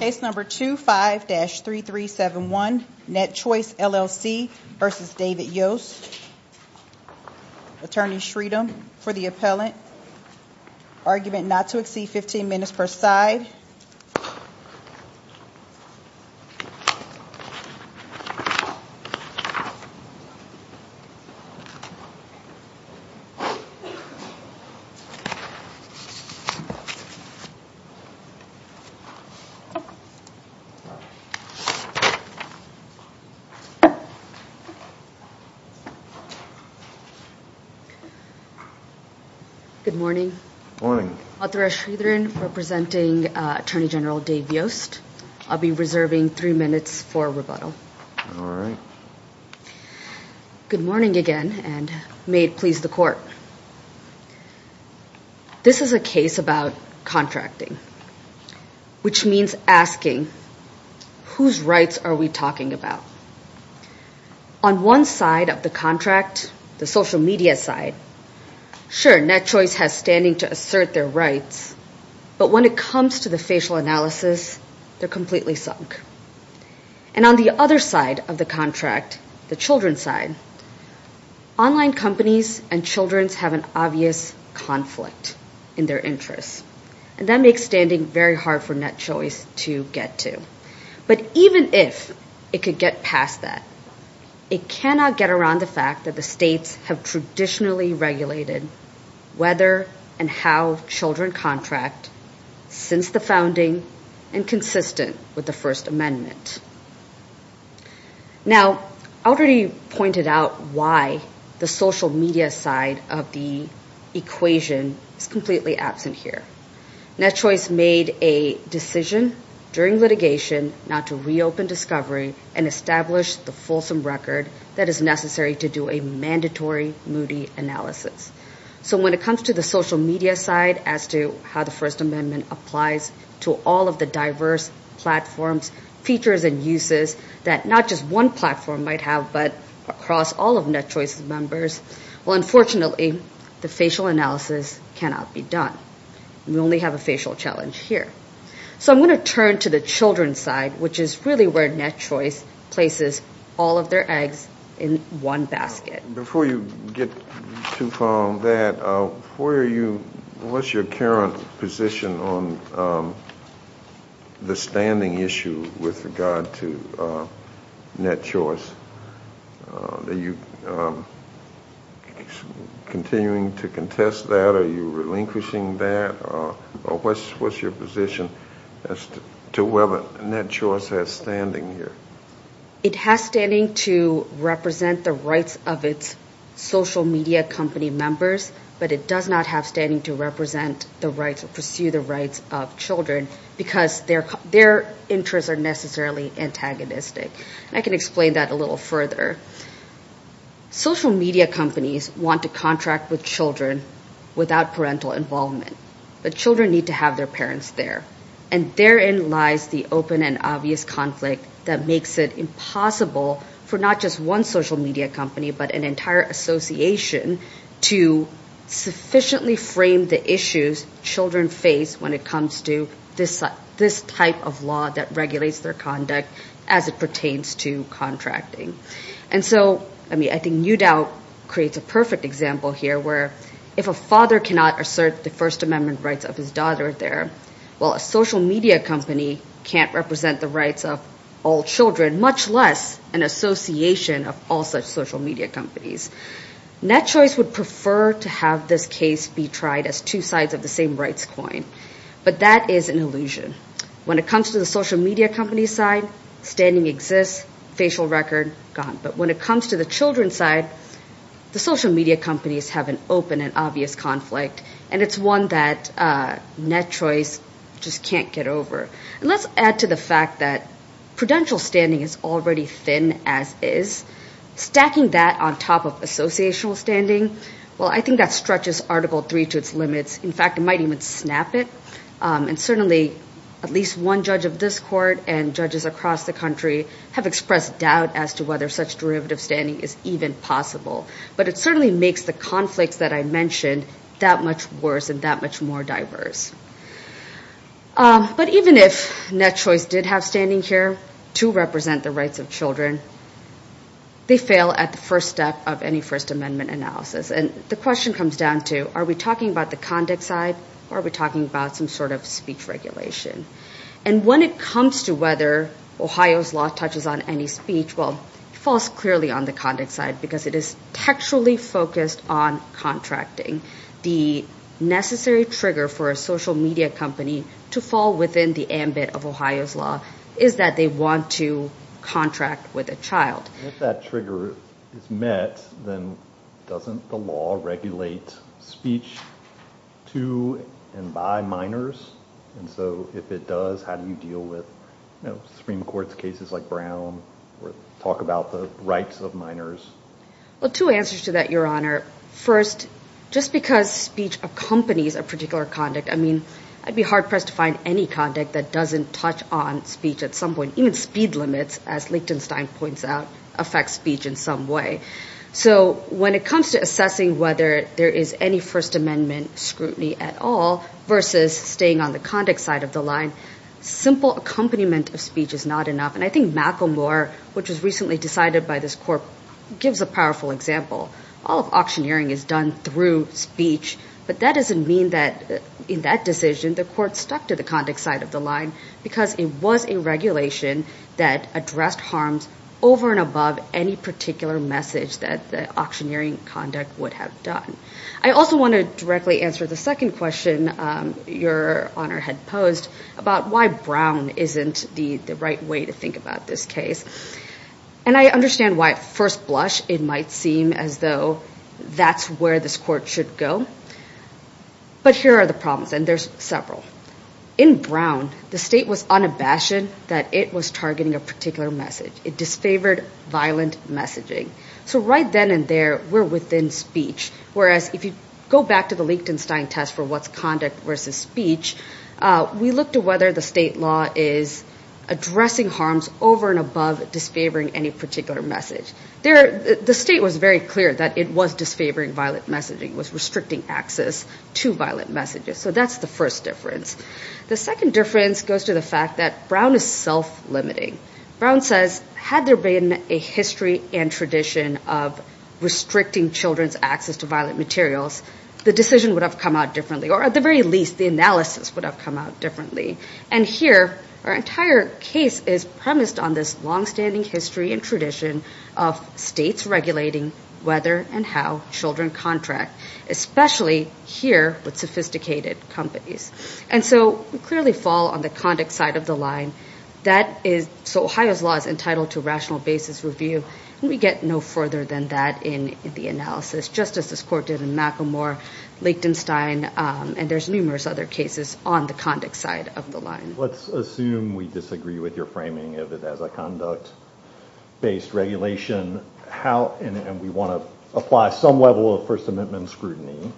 Case number 25-3371, NetChoice LLC v. David Yost. Attorney Shreedam for the appellant. Argument not to exceed 15 minutes per side. Good morning. Authorized Shreedam representing Attorney General Dave Yost. I'll be reserving three minutes for rebuttal. All right. Good morning again and may it please the court. This is a case about contracting. Which means asking, whose rights are we talking about? On one side of the contract, the social media side, sure NetChoice has standing to assert their rights, but when it comes to the facial analysis, they're completely sunk. And on the other side of the contract, the children's side, online companies and children's have an obvious conflict in their interests. And that makes standing very hard for NetChoice to get to. But even if it could get past that, it cannot get around the fact that the states have traditionally regulated whether and how children contract since the founding and consistent with the first amendment. Now, I already pointed out why the social media side of the equation is completely absent here. NetChoice made a decision during litigation not to reopen discovery and establish the fulsome record that is necessary to do a mandatory Moody analysis. So when it comes to the social media side as to how the first amendment applies to all of the diverse platforms, features and uses that not just one platform might have, but across all of NetChoice's members. Well, unfortunately, the facial analysis cannot be done. We only have a facial challenge here. So I'm going to turn to the children's side, which is really where NetChoice places all of their eggs in one basket. Before you get too far on that, what's your current position on the standing issue with regard to NetChoice? Are you continuing to contest that? Are you relinquishing that? What's your position as to whether NetChoice has standing here? It has standing to represent the rights of its social media company members, but it does not have standing to represent the rights or pursue the rights of children because their interests are necessarily antagonistic. I can explain that a little further. Social media companies want to contract with children without parental involvement, but children need to have their parents there. And therein lies the open and obvious conflict that makes it impossible for not just one social media company, but an entire association to sufficiently frame the issues children face when it comes to this type of law that regulates their conduct as it pertains to contracting. And so, I mean, I think Newdow creates a perfect example here where if a father cannot assert the First Amendment rights of his daughter there, well, a social media company can't represent the rights of all children, much less an association of all such social media companies. NetChoice would prefer to have this case be tried as two sides of the same rights coin, but that is an illusion. When it comes to the social media company side, standing exists, facial record, gone. But when it comes to the children side, the social media companies have an open and obvious conflict, and it's one that NetChoice just can't get over. And let's add to the fact that prudential standing is already thin as is. Stacking that on top of associational standing, well, I think that stretches Article 3 to its limits. In fact, it might even snap it. And certainly, at least one judge of this court and judges across the country have expressed doubt as to whether such derivative standing is even possible. But it certainly makes the conflicts that I mentioned that much worse and that much more diverse. But even if NetChoice did have standing here to represent the rights of children, they fail at the first step of any First Amendment analysis. And the question comes down to, are we talking about the conduct side or are we talking about some sort of speech regulation? And when it comes to whether Ohio's law touches on any speech, well, it falls clearly on the conduct side because it is textually focused on contracting. The necessary trigger for a social media company to fall within the ambit of Ohio's law is that they want to contract with a child. If that trigger is met, then doesn't the law regulate speech to and by minors? And so if it does, how do you deal with, you know, Supreme Court's cases like Brown or talk about the rights of minors? Well, two answers to that, Your Honor. First, just because speech accompanies a particular conduct, I mean, I'd be hard-pressed to find any conduct that doesn't touch on speech at some point. Even speed limits, as Lichtenstein points out, affect speech in some way. So when it comes to assessing whether there is any First Amendment scrutiny at all versus staying on the conduct side of the line, simple accompaniment of speech is not enough. And I think Macklemore, which was recently decided by this court, gives a powerful example. All of auctioneering is done through speech, but that doesn't mean that in that decision, the court stuck to the conduct side of the line because it was a regulation that addressed harms over and above any particular message that auctioneering conduct would have done. I also want to directly answer the second question Your Honor had posed about why Brown isn't the right way to think about this case. And I understand why at first blush, it might seem as though that's where this court should go. But here are the problems, and there's several. In Brown, the state was unabashed that it was targeting a particular message. It disfavored violent messaging. And there, we're within speech. Whereas if you go back to the Liechtenstein test for what's conduct versus speech, we look to whether the state law is addressing harms over and above disfavoring any particular message. The state was very clear that it was disfavoring violent messaging, was restricting access to violent messages. So that's the first difference. The second difference goes to the fact that Brown is self-limiting. Brown says, had there been a history and tradition of restricting children's access to violent materials, the decision would have come out differently. Or at the very least, the analysis would have come out differently. And here, our entire case is premised on this longstanding history and tradition of states regulating whether and how children contract, especially here with sophisticated companies. And so we clearly fall on the conduct side of the line. So Ohio's law is entitled to rational basis review, and we get no further than that in the analysis, just as this court did in McElmore, Liechtenstein, and there's numerous other cases on the conduct side of the line. Let's assume we disagree with your framing of it as a conduct-based regulation, and we want to apply some level of First Amendment scrutiny.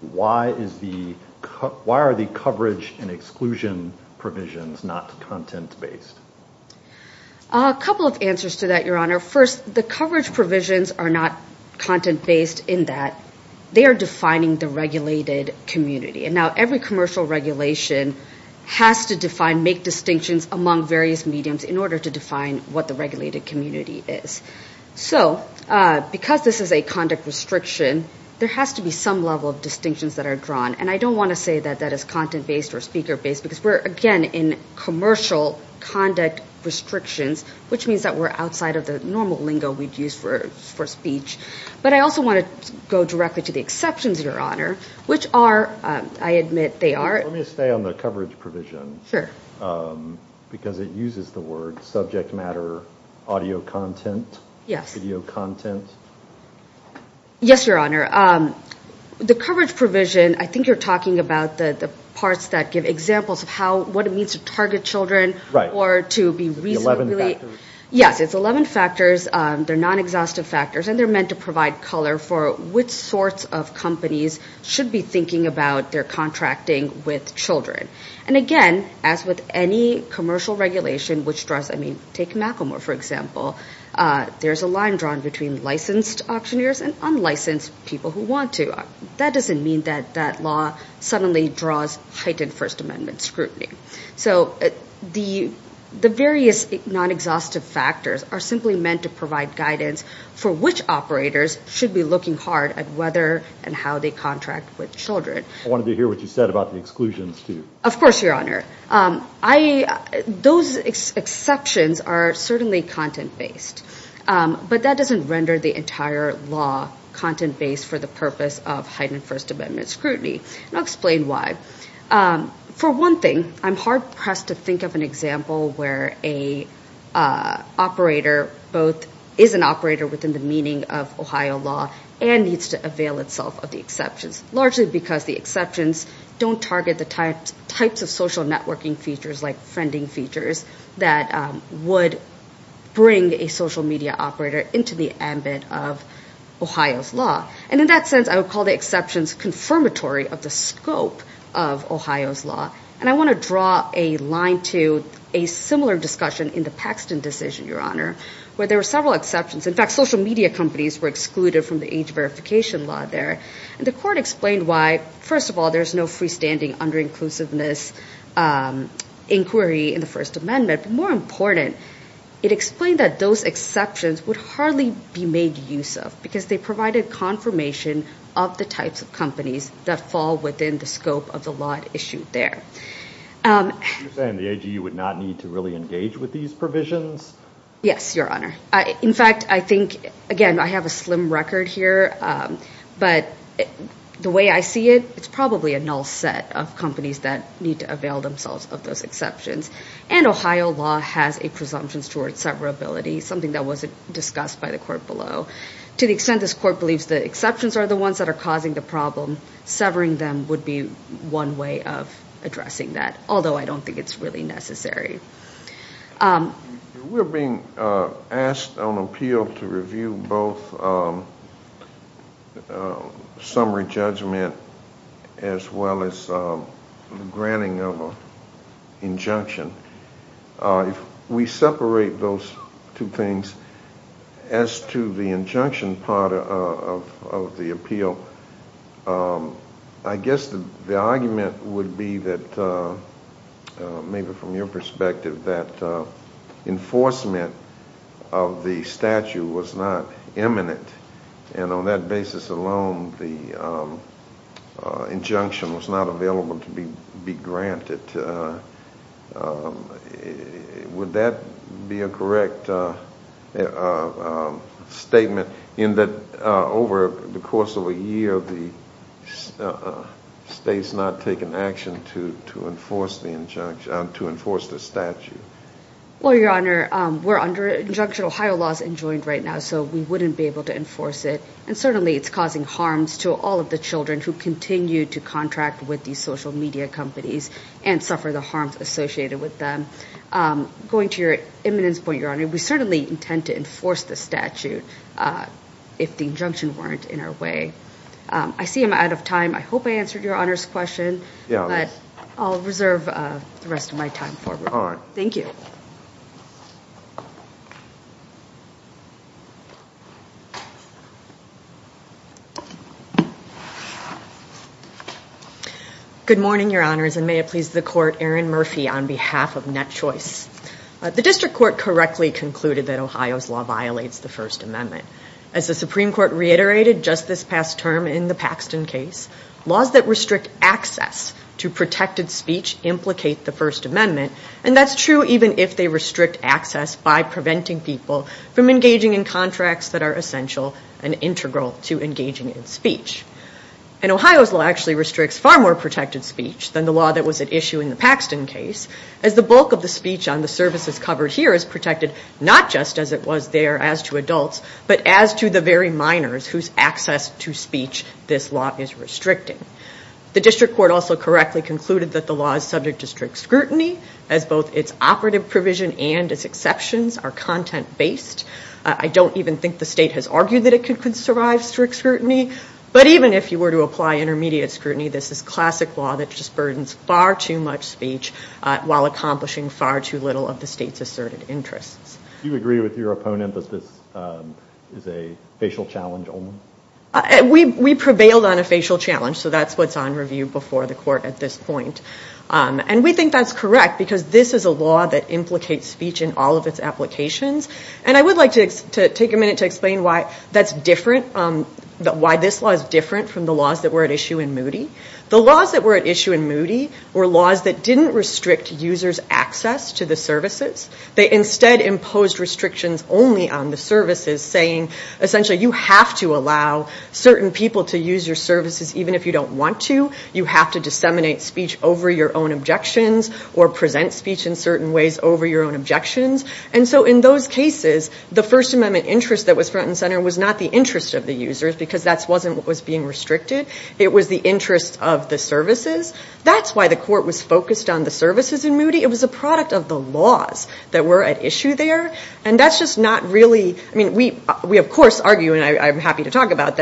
Why are the coverage and exclusion provisions not content-based? A couple of answers to that, Your Honor. First, the coverage provisions are not content-based in that they are defining the regulated community. And now every commercial regulation has to define, make distinctions among various mediums in order to define what the regulated community is. So because this is a conduct restriction, there has to be some level of distinctions that are drawn. And I don't want to say that that is content-based or speaker-based, because we're, again, in commercial conduct restrictions, which means that we're outside of the normal lingo we'd use for speech. But I also want to go directly to the exceptions, Your Honor, which are, I admit they are... Let me stay on the coverage provision. Sure. Because it uses the word subject matter audio content. Yes. Video content. Yes, Your Honor. The coverage provision, I think you're talking about the parts that give examples of what it means to target children or to be reasonably... The 11 factors. Yes, it's 11 factors. They're non-exhaustive factors, and they're meant to provide color for which sorts of companies should be thinking about their contracting with children. And again, as with any commercial regulation, which draws... I mean, take Macklemore, for example. There's a line drawn between licensed auctioneers and unlicensed people who want to. That doesn't mean that that law suddenly draws heightened First Amendment scrutiny. So the various non-exhaustive factors are simply meant to provide guidance for which operators should be looking hard at whether and how they contract with children. I wanted to hear what you said about the exclusions, too. Of course, Your Honor. Those exceptions are certainly content-based. But that doesn't render the entire law content-based for the purpose of heightened First Amendment scrutiny. And I'll explain why. For one thing, I'm hard-pressed to think of an example where a operator both is an operator within the meaning of Ohio law and needs to avail itself of the exceptions, largely because the exceptions don't target the types of social networking features, like friending features, that would bring a social media operator into the ambit of Ohio's law. And in that sense, I would call the exceptions confirmatory of the scope of Ohio's law. And I want to draw a line to a similar discussion in the Paxton decision, Your Honor, where there were several exceptions. In fact, social media companies were excluded from the age verification law there. And the court explained why, first of all, there's no freestanding under-inclusiveness inquiry in the First Amendment. But more important, it explained that those exceptions could hardly be made use of, because they provided confirmation of the types of companies that fall within the scope of the law issued there. You're saying the AG would not need to really engage with these provisions? Yes, Your Honor. In fact, I think, again, I have a slim record here, but the way I see it, it's probably a null set of companies that need to avail themselves of those exceptions. And Ohio law has a presumption towards severability, something that wasn't discussed by the court below. To the extent this court believes the exceptions are the ones that are causing the problem, severing them would be one way of addressing that, although I don't think it's really necessary. We're being asked on appeal to review both summary judgment as well as granting of an injunction. If we separate those two things, as to the injunction part of the appeal, I guess the argument would be that, maybe from your perspective, that enforcement of the statute was not imminent, and on that basis alone, the injunction was not available to be granted. Would that be a correct statement, in that over the course of a year, the state's not taken action to enforce the statute? Well, Your Honor, we're under injunction. Ohio law is enjoined right now, so we wouldn't be able to enforce it. And certainly it's causing harms to all of the children who continue to contract with these social media companies and suffer the harms associated with them. Going to your imminence point, Your Honor, we certainly intend to enforce the statute if the injunction weren't in our way. I see I'm out of time. I hope I answered Your Honor's question, but I'll reserve the rest of my time for it. Thank you. Good morning, Your Honors, and may it please the Court, Erin Murphy on behalf of NetChoice. The District Court correctly concluded that Ohio's law violates the First Amendment. As the Supreme Court reiterated just this past term in the Paxton case, laws that restrict access to protected speech implicate the First Amendment, and that's true even if the law does not if they restrict access by preventing people from engaging in contracts that are essential and integral to engaging in speech. And Ohio's law actually restricts far more protected speech than the law that was at issue in the Paxton case, as the bulk of the speech on the services covered here is protected not just as it was there as to adults, but as to the very minors whose access to speech this law is restricting. The District Court also correctly concluded that the law is subject to strict scrutiny as both its operative provision and its exceptions are content-based. I don't even think the state has argued that it could survive strict scrutiny, but even if you were to apply intermediate scrutiny, this is classic law that just burdens far too much speech while accomplishing far too little of the state's asserted interests. Do you agree with your opponent that this is a facial challenge only? We prevailed on a facial challenge, so that's what's on review before the Court at this point. And we think that's correct because this is a law that implicates speech in all of its applications. And I would like to take a minute to explain why that's different, why this law is different from the laws that were at issue in Moody. The laws that were at issue in Moody were laws that didn't restrict users' access to the services. They instead imposed restrictions only on the services, saying essentially you have to allow certain people to use your services even if you don't want to. You can't speak over your own objections or present speech in certain ways over your own objections. And so in those cases, the First Amendment interest that was front and center was not the interest of the users because that wasn't what was being restricted. It was the interest of the services. That's why the Court was focused on the services in Moody. It was a product of the laws that were at issue there. And that's just not really, I mean we of course argue about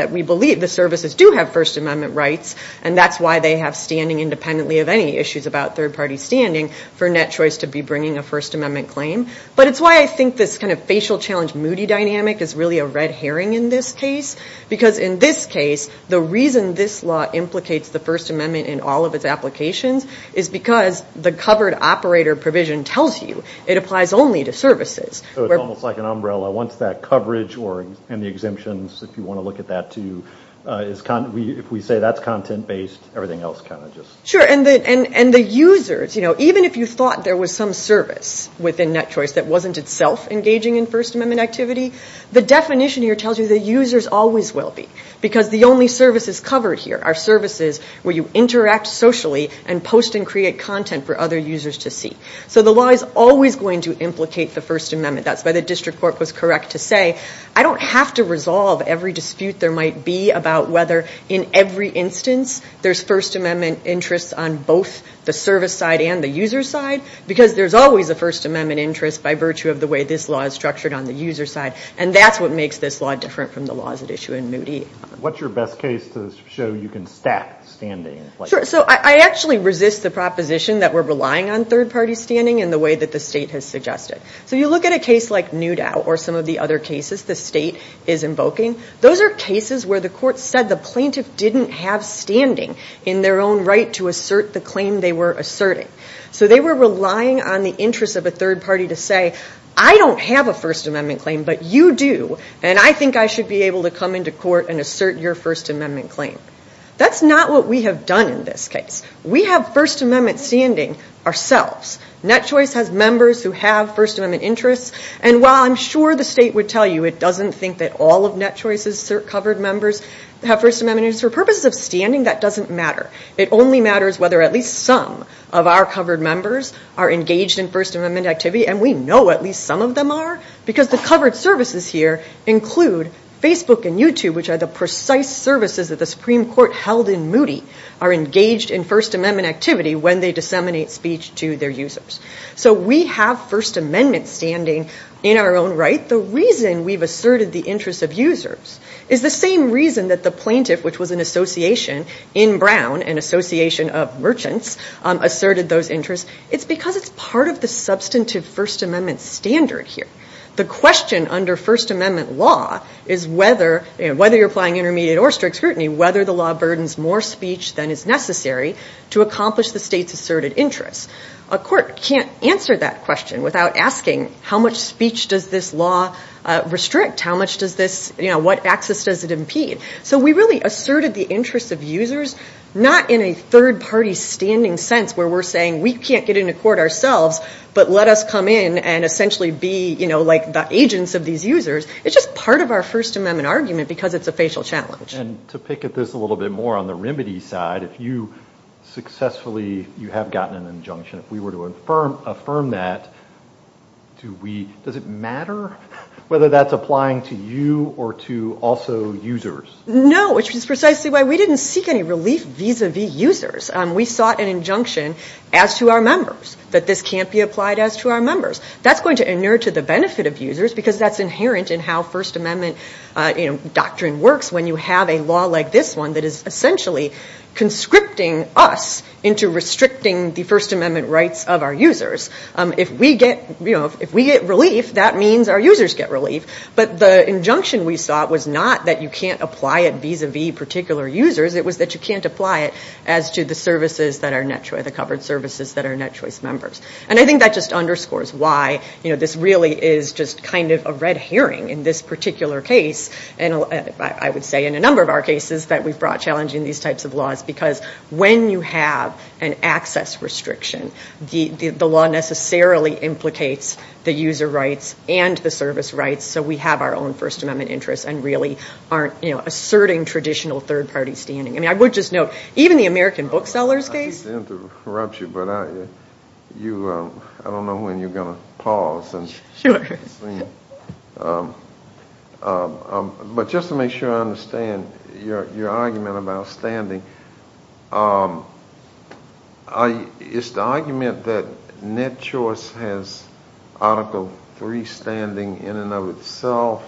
issues about third party standing for Net Choice to be bringing a First Amendment claim. But it's why I think this kind of facial challenge Moody dynamic is really a red herring in this case because in this case, the reason this law implicates the First Amendment in all of its applications is because the covered operator provision tells you it applies only to services. So it's almost like an umbrella. Once that coverage and the exemptions, if you want to look at that too, if we say that's content based, and the users, even if you thought there was some service within Net Choice that wasn't itself engaging in First Amendment activity, the definition here tells you the users always will be because the only services covered here are services where you interact socially and post and create content for other users to see. So the law is always going to implicate the First Amendment. That's why the District Court was correct to say I don't have to resolve every dispute there might be about whether it's the service side and the user side because there's always a First Amendment interest by virtue of the way this law is structured on the user side. And that's what makes this law different from the laws at issue in Moody. What's your best case to show you can stack standing? Sure. So I actually resist the proposition that we're relying on third party standing in the way that the state has suggested. So you look at a case like Newdow or some of the other cases the state is invoking. Those are cases where the court said the plaintiff didn't have standing and they were asserting. So they were relying on the interest of a third party to say I don't have a First Amendment claim but you do and I think I should be able to come into court and assert your First Amendment claim. That's not what we have done in this case. We have First Amendment standing ourselves. Net Choice has members who have First Amendment interests and while I'm sure the state would tell you it doesn't think that all of Net Choice's covered members have First Amendment interests for purposes of standing that doesn't matter. The majority of our covered members are engaged in First Amendment activity and we know at least some of them are because the covered services here include Facebook and YouTube which are the precise services that the Supreme Court held in Moody are engaged in First Amendment activity when they disseminate speech to their users. So we have First Amendment standing in our own right. The reason we've asserted the interest of users is the same reason that the plaintiff which was an association in Brown, an association of merchants asserted those interests. It's because it's part of the substantive First Amendment standard here. The question under First Amendment law is whether you're applying intermediate or strict scrutiny whether the law burdens more speech than is necessary to accomplish the state's asserted interests. A court can't answer that question without asking how much speech does this law restrict? What access does it impede? So we really asserted the interest of users not in a third party standing sense where we're saying we can't get into court ourselves but let us come in and essentially be like the agents of these users. It's just part of our First Amendment argument because it's a facial challenge. And to pick at this a little bit more on the remedy side if you successfully have gotten an injunction if we were to affirm that does it matter whether that's applying to you or to also users? No, which is precisely why we didn't seek any relief vis-a-vis users. We sought an injunction as to our members that this can't be applied as to our members. That's going to inure to the benefit of users because that's inherent in how First Amendment doctrine works when you have a law like this one that is essentially conscripting us into restricting the First Amendment rights of our users. If we get relief that means our users get relief but the injunction we sought was not that you can't apply it vis-a-vis particular users but the covered services that are NetChoice members. And I think that just underscores why this really is just kind of a red herring in this particular case and I would say in a number of our cases that we've brought challenging these types of laws because when you have an access restriction the law necessarily implicates the user rights and the service rights so we have our own First Amendment interests and really aren't asserting traditional third party standing. Is that true in the Sellers case? I didn't mean to interrupt you but I don't know when you're going to pause. Sure. But just to make sure I understand your argument about standing it's the argument that NetChoice has Article 3 standing in and of itself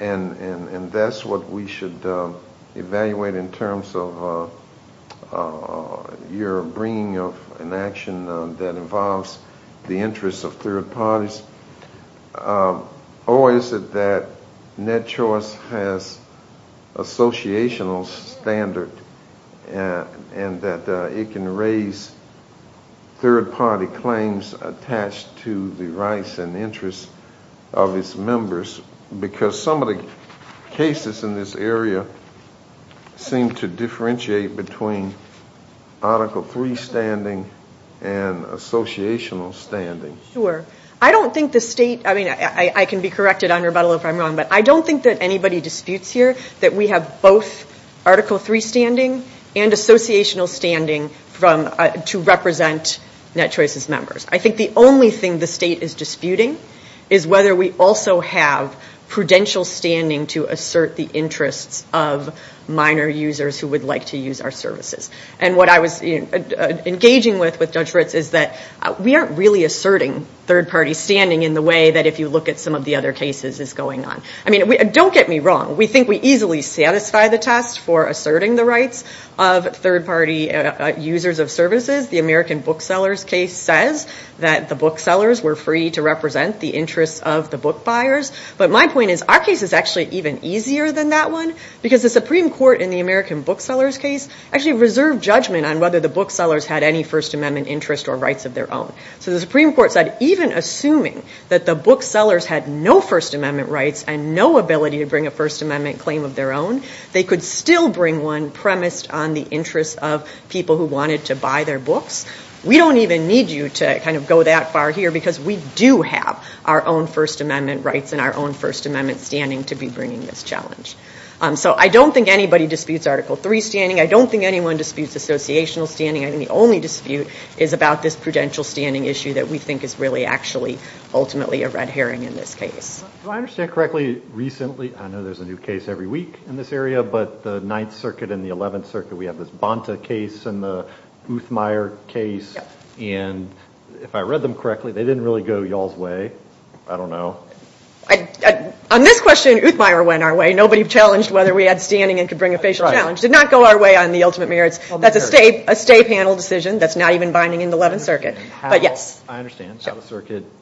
and that's what we should evaluate in terms of your bringing of an action that involves the interests of third parties. Or is it that NetChoice has associational standard and that it can raise third party claims attached to the rights and interests of its members because some of the cases in this area seem to differentiate between Article 3 standing and associational standing. Sure. I don't think the state I mean I can be corrected on rebuttal if I'm wrong but I don't think that anybody disputes here that we have both Article 3 standing and associational standing to represent NetChoice's members. I think the only thing the state is disputing is whether we also have prudential standing to assert the interests of minor users who would like to use our services. And what I was engaging with Judge Ritz is that we aren't really asserting third parties standing in the way that if you look at some of the other cases is going on. I mean don't get me wrong we think we easily satisfy the test for asserting the rights of third party users of services. The American booksellers case says that the booksellers were free to represent the interests of the book buyers. But my point is our case is actually even easier than that one because the Supreme Court in the American booksellers case actually reserved judgment on whether the booksellers had any First Amendment interest or rights of their own. So the Supreme Court said even assuming that the booksellers had no First Amendment rights and no ability to bring a First Amendment claim of their own we do have our own First Amendment rights and our own First Amendment standing to be bringing this challenge. So I don't think anybody disputes Article 3 standing. I don't think anyone disputes associational standing. I think the only dispute is about this prudential standing issue that we think is really actually ultimately a red herring in this case. Do I understand correctly recently I know there's a new case every week in this area but the 9th Circuit and the 11th Circuit went out of the court's way? I don't know. On this question Uthmeyer went our way. Nobody challenged whether we had standing and could bring a facial challenge. Did not go our way on the ultimate merits. That's a state panel decision that's not even binding in the 11th Circuit. I understand.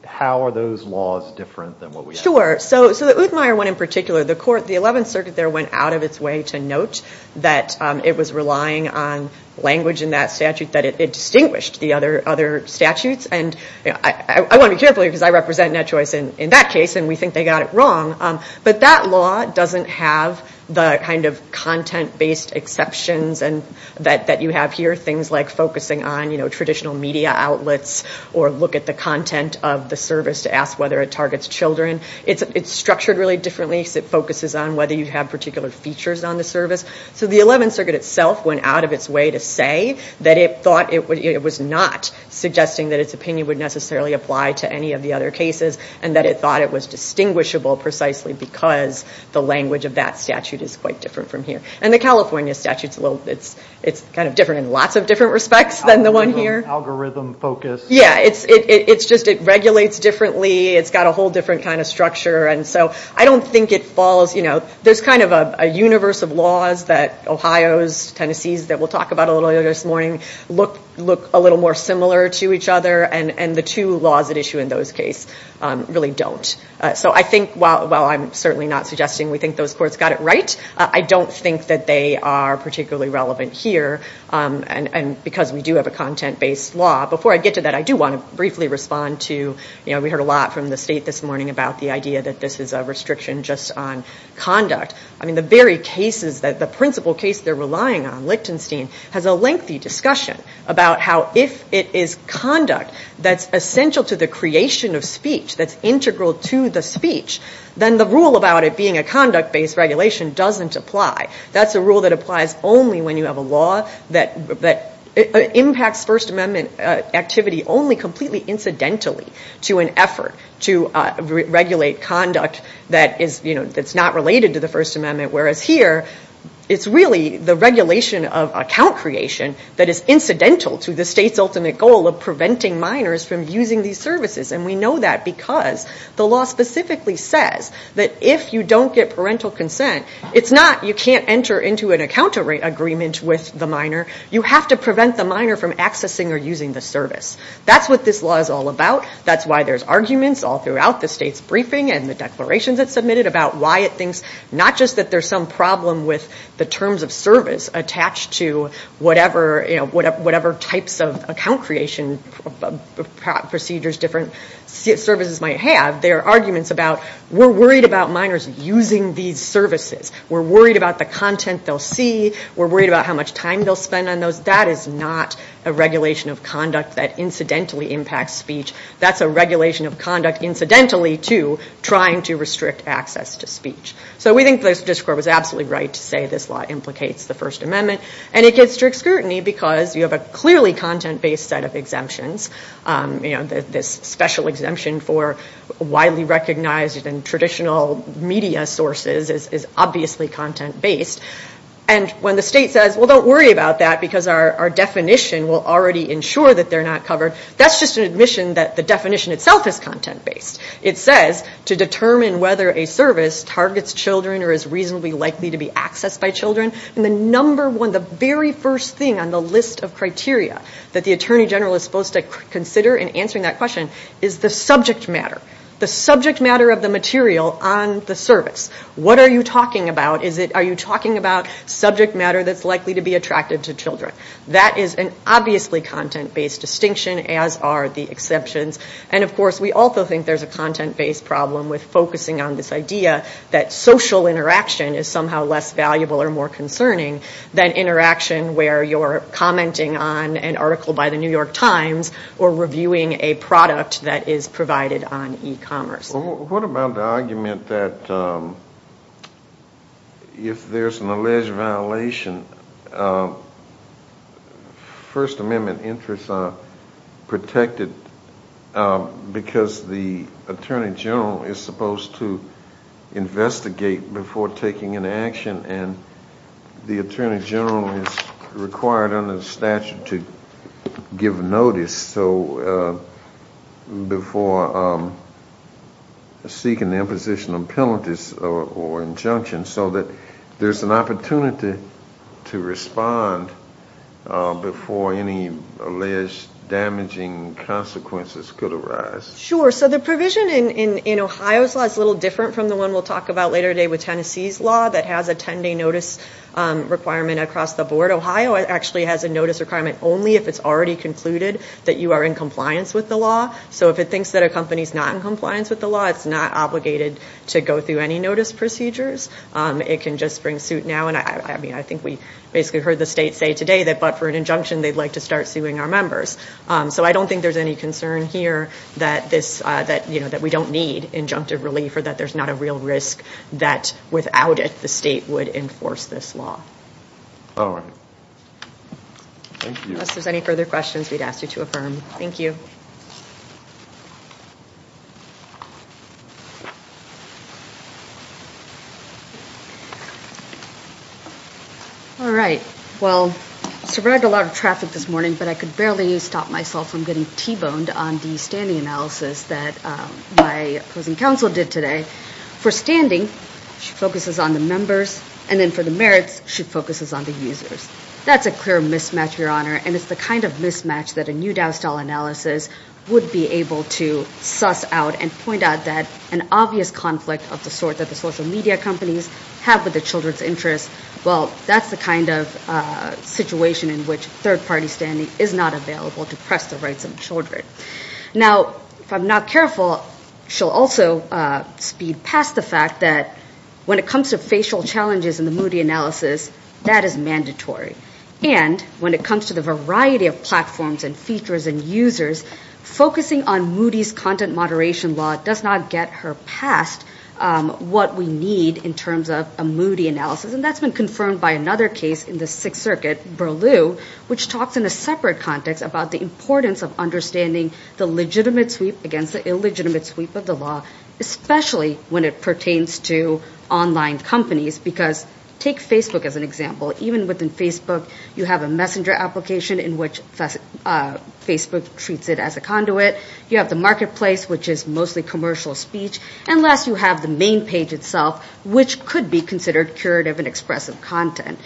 How are those laws different than what we have? Sure. So the Uthmeyer one in particular the 11th Circuit there went out of its way to note that it was relying on language in that statute that it distinguished the other statutes. I want to be careful here because I represent NetChoice in that case and we think they got it wrong. But that law doesn't have the kind of content based exceptions that you have here. Things like focusing on traditional media outlets or look at the content of the service to ask whether it targets children. It's structured really differently because it focuses on whether you have particular features on the service. And that it thought it was not suggesting that its opinion would necessarily apply to any of the other cases and that it thought it was distinguishable precisely because the language of that statute is quite different from here. And the California statute it's kind of different in lots of different respects than the one here. Algorithm focused. Yeah. It's just it regulates differently. It's got a whole different kind of structure. And so I don't think it falls there's kind of a universe of laws that Ohio's, Tennessee's that we'll talk about a little earlier this morning look a little more similar to each other and the two laws at issue in those case really don't. So I think while I'm certainly not suggesting we think those courts got it right I don't think that they are particularly relevant here and because we do have a content based law. Before I get to that I do want to briefly respond to we heard a lot from the state this morning about the idea that this is a restriction on conduct. I mean the very cases the principle case they're relying on Lichtenstein has a lengthy discussion about how if it is conduct that's essential to the creation of speech that's integral to the speech then the rule about it being a conduct based regulation doesn't apply. That's a rule that applies only when you have a law that impacts First Amendment activity only completely incidentally to an effort to regulate conduct that's not related to the First Amendment whereas here it's really the regulation of account creation that is incidental to the state's ultimate goal of preventing minors from using these services and we know that because the law specifically says that if you don't get parental consent it's not you can't enter into an account agreement with the minor you have to prevent the minor from accessing or using the service. That's what this law is all about. That's why there's arguments in the regulations it submitted about why it thinks not just that there's some problem with the terms of service attached to whatever types of account creation procedures different services might have there are arguments about we're worried about minors using these services we're worried about the content they'll see we're worried about how much time they'll spend on those that is not a regulation of conduct that incidentally impacts speech or restrict access to speech. So we think the statistical court was absolutely right to say this law implicates the First Amendment and it gets strict scrutiny because you have a clearly content-based set of exemptions this special exemption for widely recognized and traditional media sources is obviously content-based and when the state says well don't worry about that because our definition will already ensure that they're not covered that's just an admission that the definition itself is content-based. It says to determine whether a service targets children or is reasonably likely to be accessed by children and the number one the very first thing on the list of criteria that the Attorney General is supposed to consider in answering that question is the subject matter content-based distinction as are the exceptions and of course we also think there's a content-based problem with focusing on this idea that social interaction is somehow less valuable or more concerning than interaction where you're commenting on an article by the New York Times or reviewing a product that is provided on e-commerce. What about the argument that if there's an alleged protection because the Attorney General is supposed to investigate before taking an action and the Attorney General is required under the statute to give notice so before seeking the imposition of penalties or injunction so that there's an opportunity to respond before any alleged damaging consequences could arise? Sure, so the provision in Ohio's law is a little different from the one we'll talk about later today with Tennessee's law that has a 10-day notice requirement across the board. Ohio actually has a notice requirement only if it's already concluded that you are in compliance with the law so if it thinks that a company is not in compliance with the law it's not obligated to go through any notice procedures. It can just bring suit now and I think we basically heard the state say today that but for an injunction they'd like to start suing our members so I don't think there's any concern here that we don't need injunctive relief or that there's not a real risk that without it the state would enforce this law. Thank you. Unless there's any further questions we'd ask you to affirm. Thank you. Alright. Well, we survived a lot of traffic this morning but I could barely stop myself from getting T-boned on the standing analysis that my opposing counsel did today. For standing she focuses on the members and then for the merits she focuses on the users. That's a clear mismatch, Your Honor and it's the kind of mismatch that a new Dow style analysis would be able to suss out and point out that an obvious conflict of the sort that the social media companies have with the children's interests well, that's the kind of situation in which third-party standing is not available to press the rights of children. Now, if I'm not careful she'll also speed past the fact that when it comes to facial challenges in the Moody analysis that is mandatory and when it comes to the variety of platforms and features and users focusing on Moody's content moderation law does not get her past what we need in terms of a Moody analysis and that's been confirmed by another case in the Sixth which talks in a separate context about the importance of understanding the legitimate sweep against the illegitimate sweep of the law especially when it pertains to online companies because take Facebook as an example even within Facebook you have a messenger application in which Facebook treats it as a conduit you have the marketplace which is mostly commercial speech and last you have the main page itself which could be considered curative and expressive content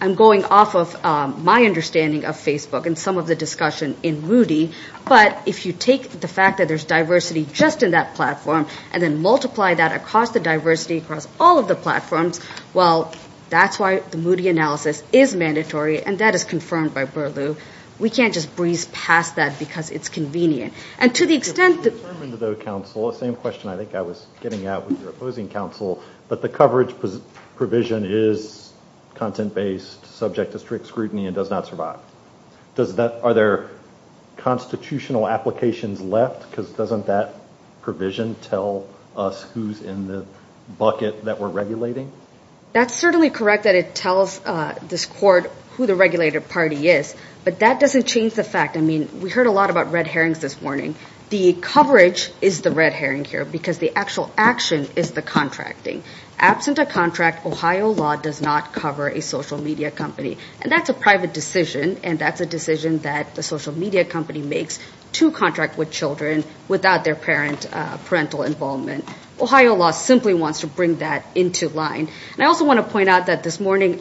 I'm going off of my understanding of Facebook and some of the discussion in Moody but if you take the fact that there's diversity just in that platform and then multiply that across the diversity across all of the platforms well that's why the Moody analysis is mandatory and that is confirmed by we can't just breeze past that because it's convenient and to the extent that the question is coverage provision is content based subject to strict scrutiny and does not survive are there constitutional applications left because doesn't that provision tell us who's in the bucket that we're regulating that's certainly correct that it tells this who the regulator party is but that doesn't change the fact we heard a lot about red herrings this morning the coverage is the red herring here because the actual action is the red this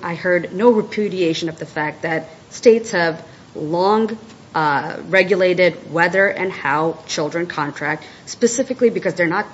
morning I heard no repudiation of the fact that states have long regulated whether and how children contract specifically because they're not capable of children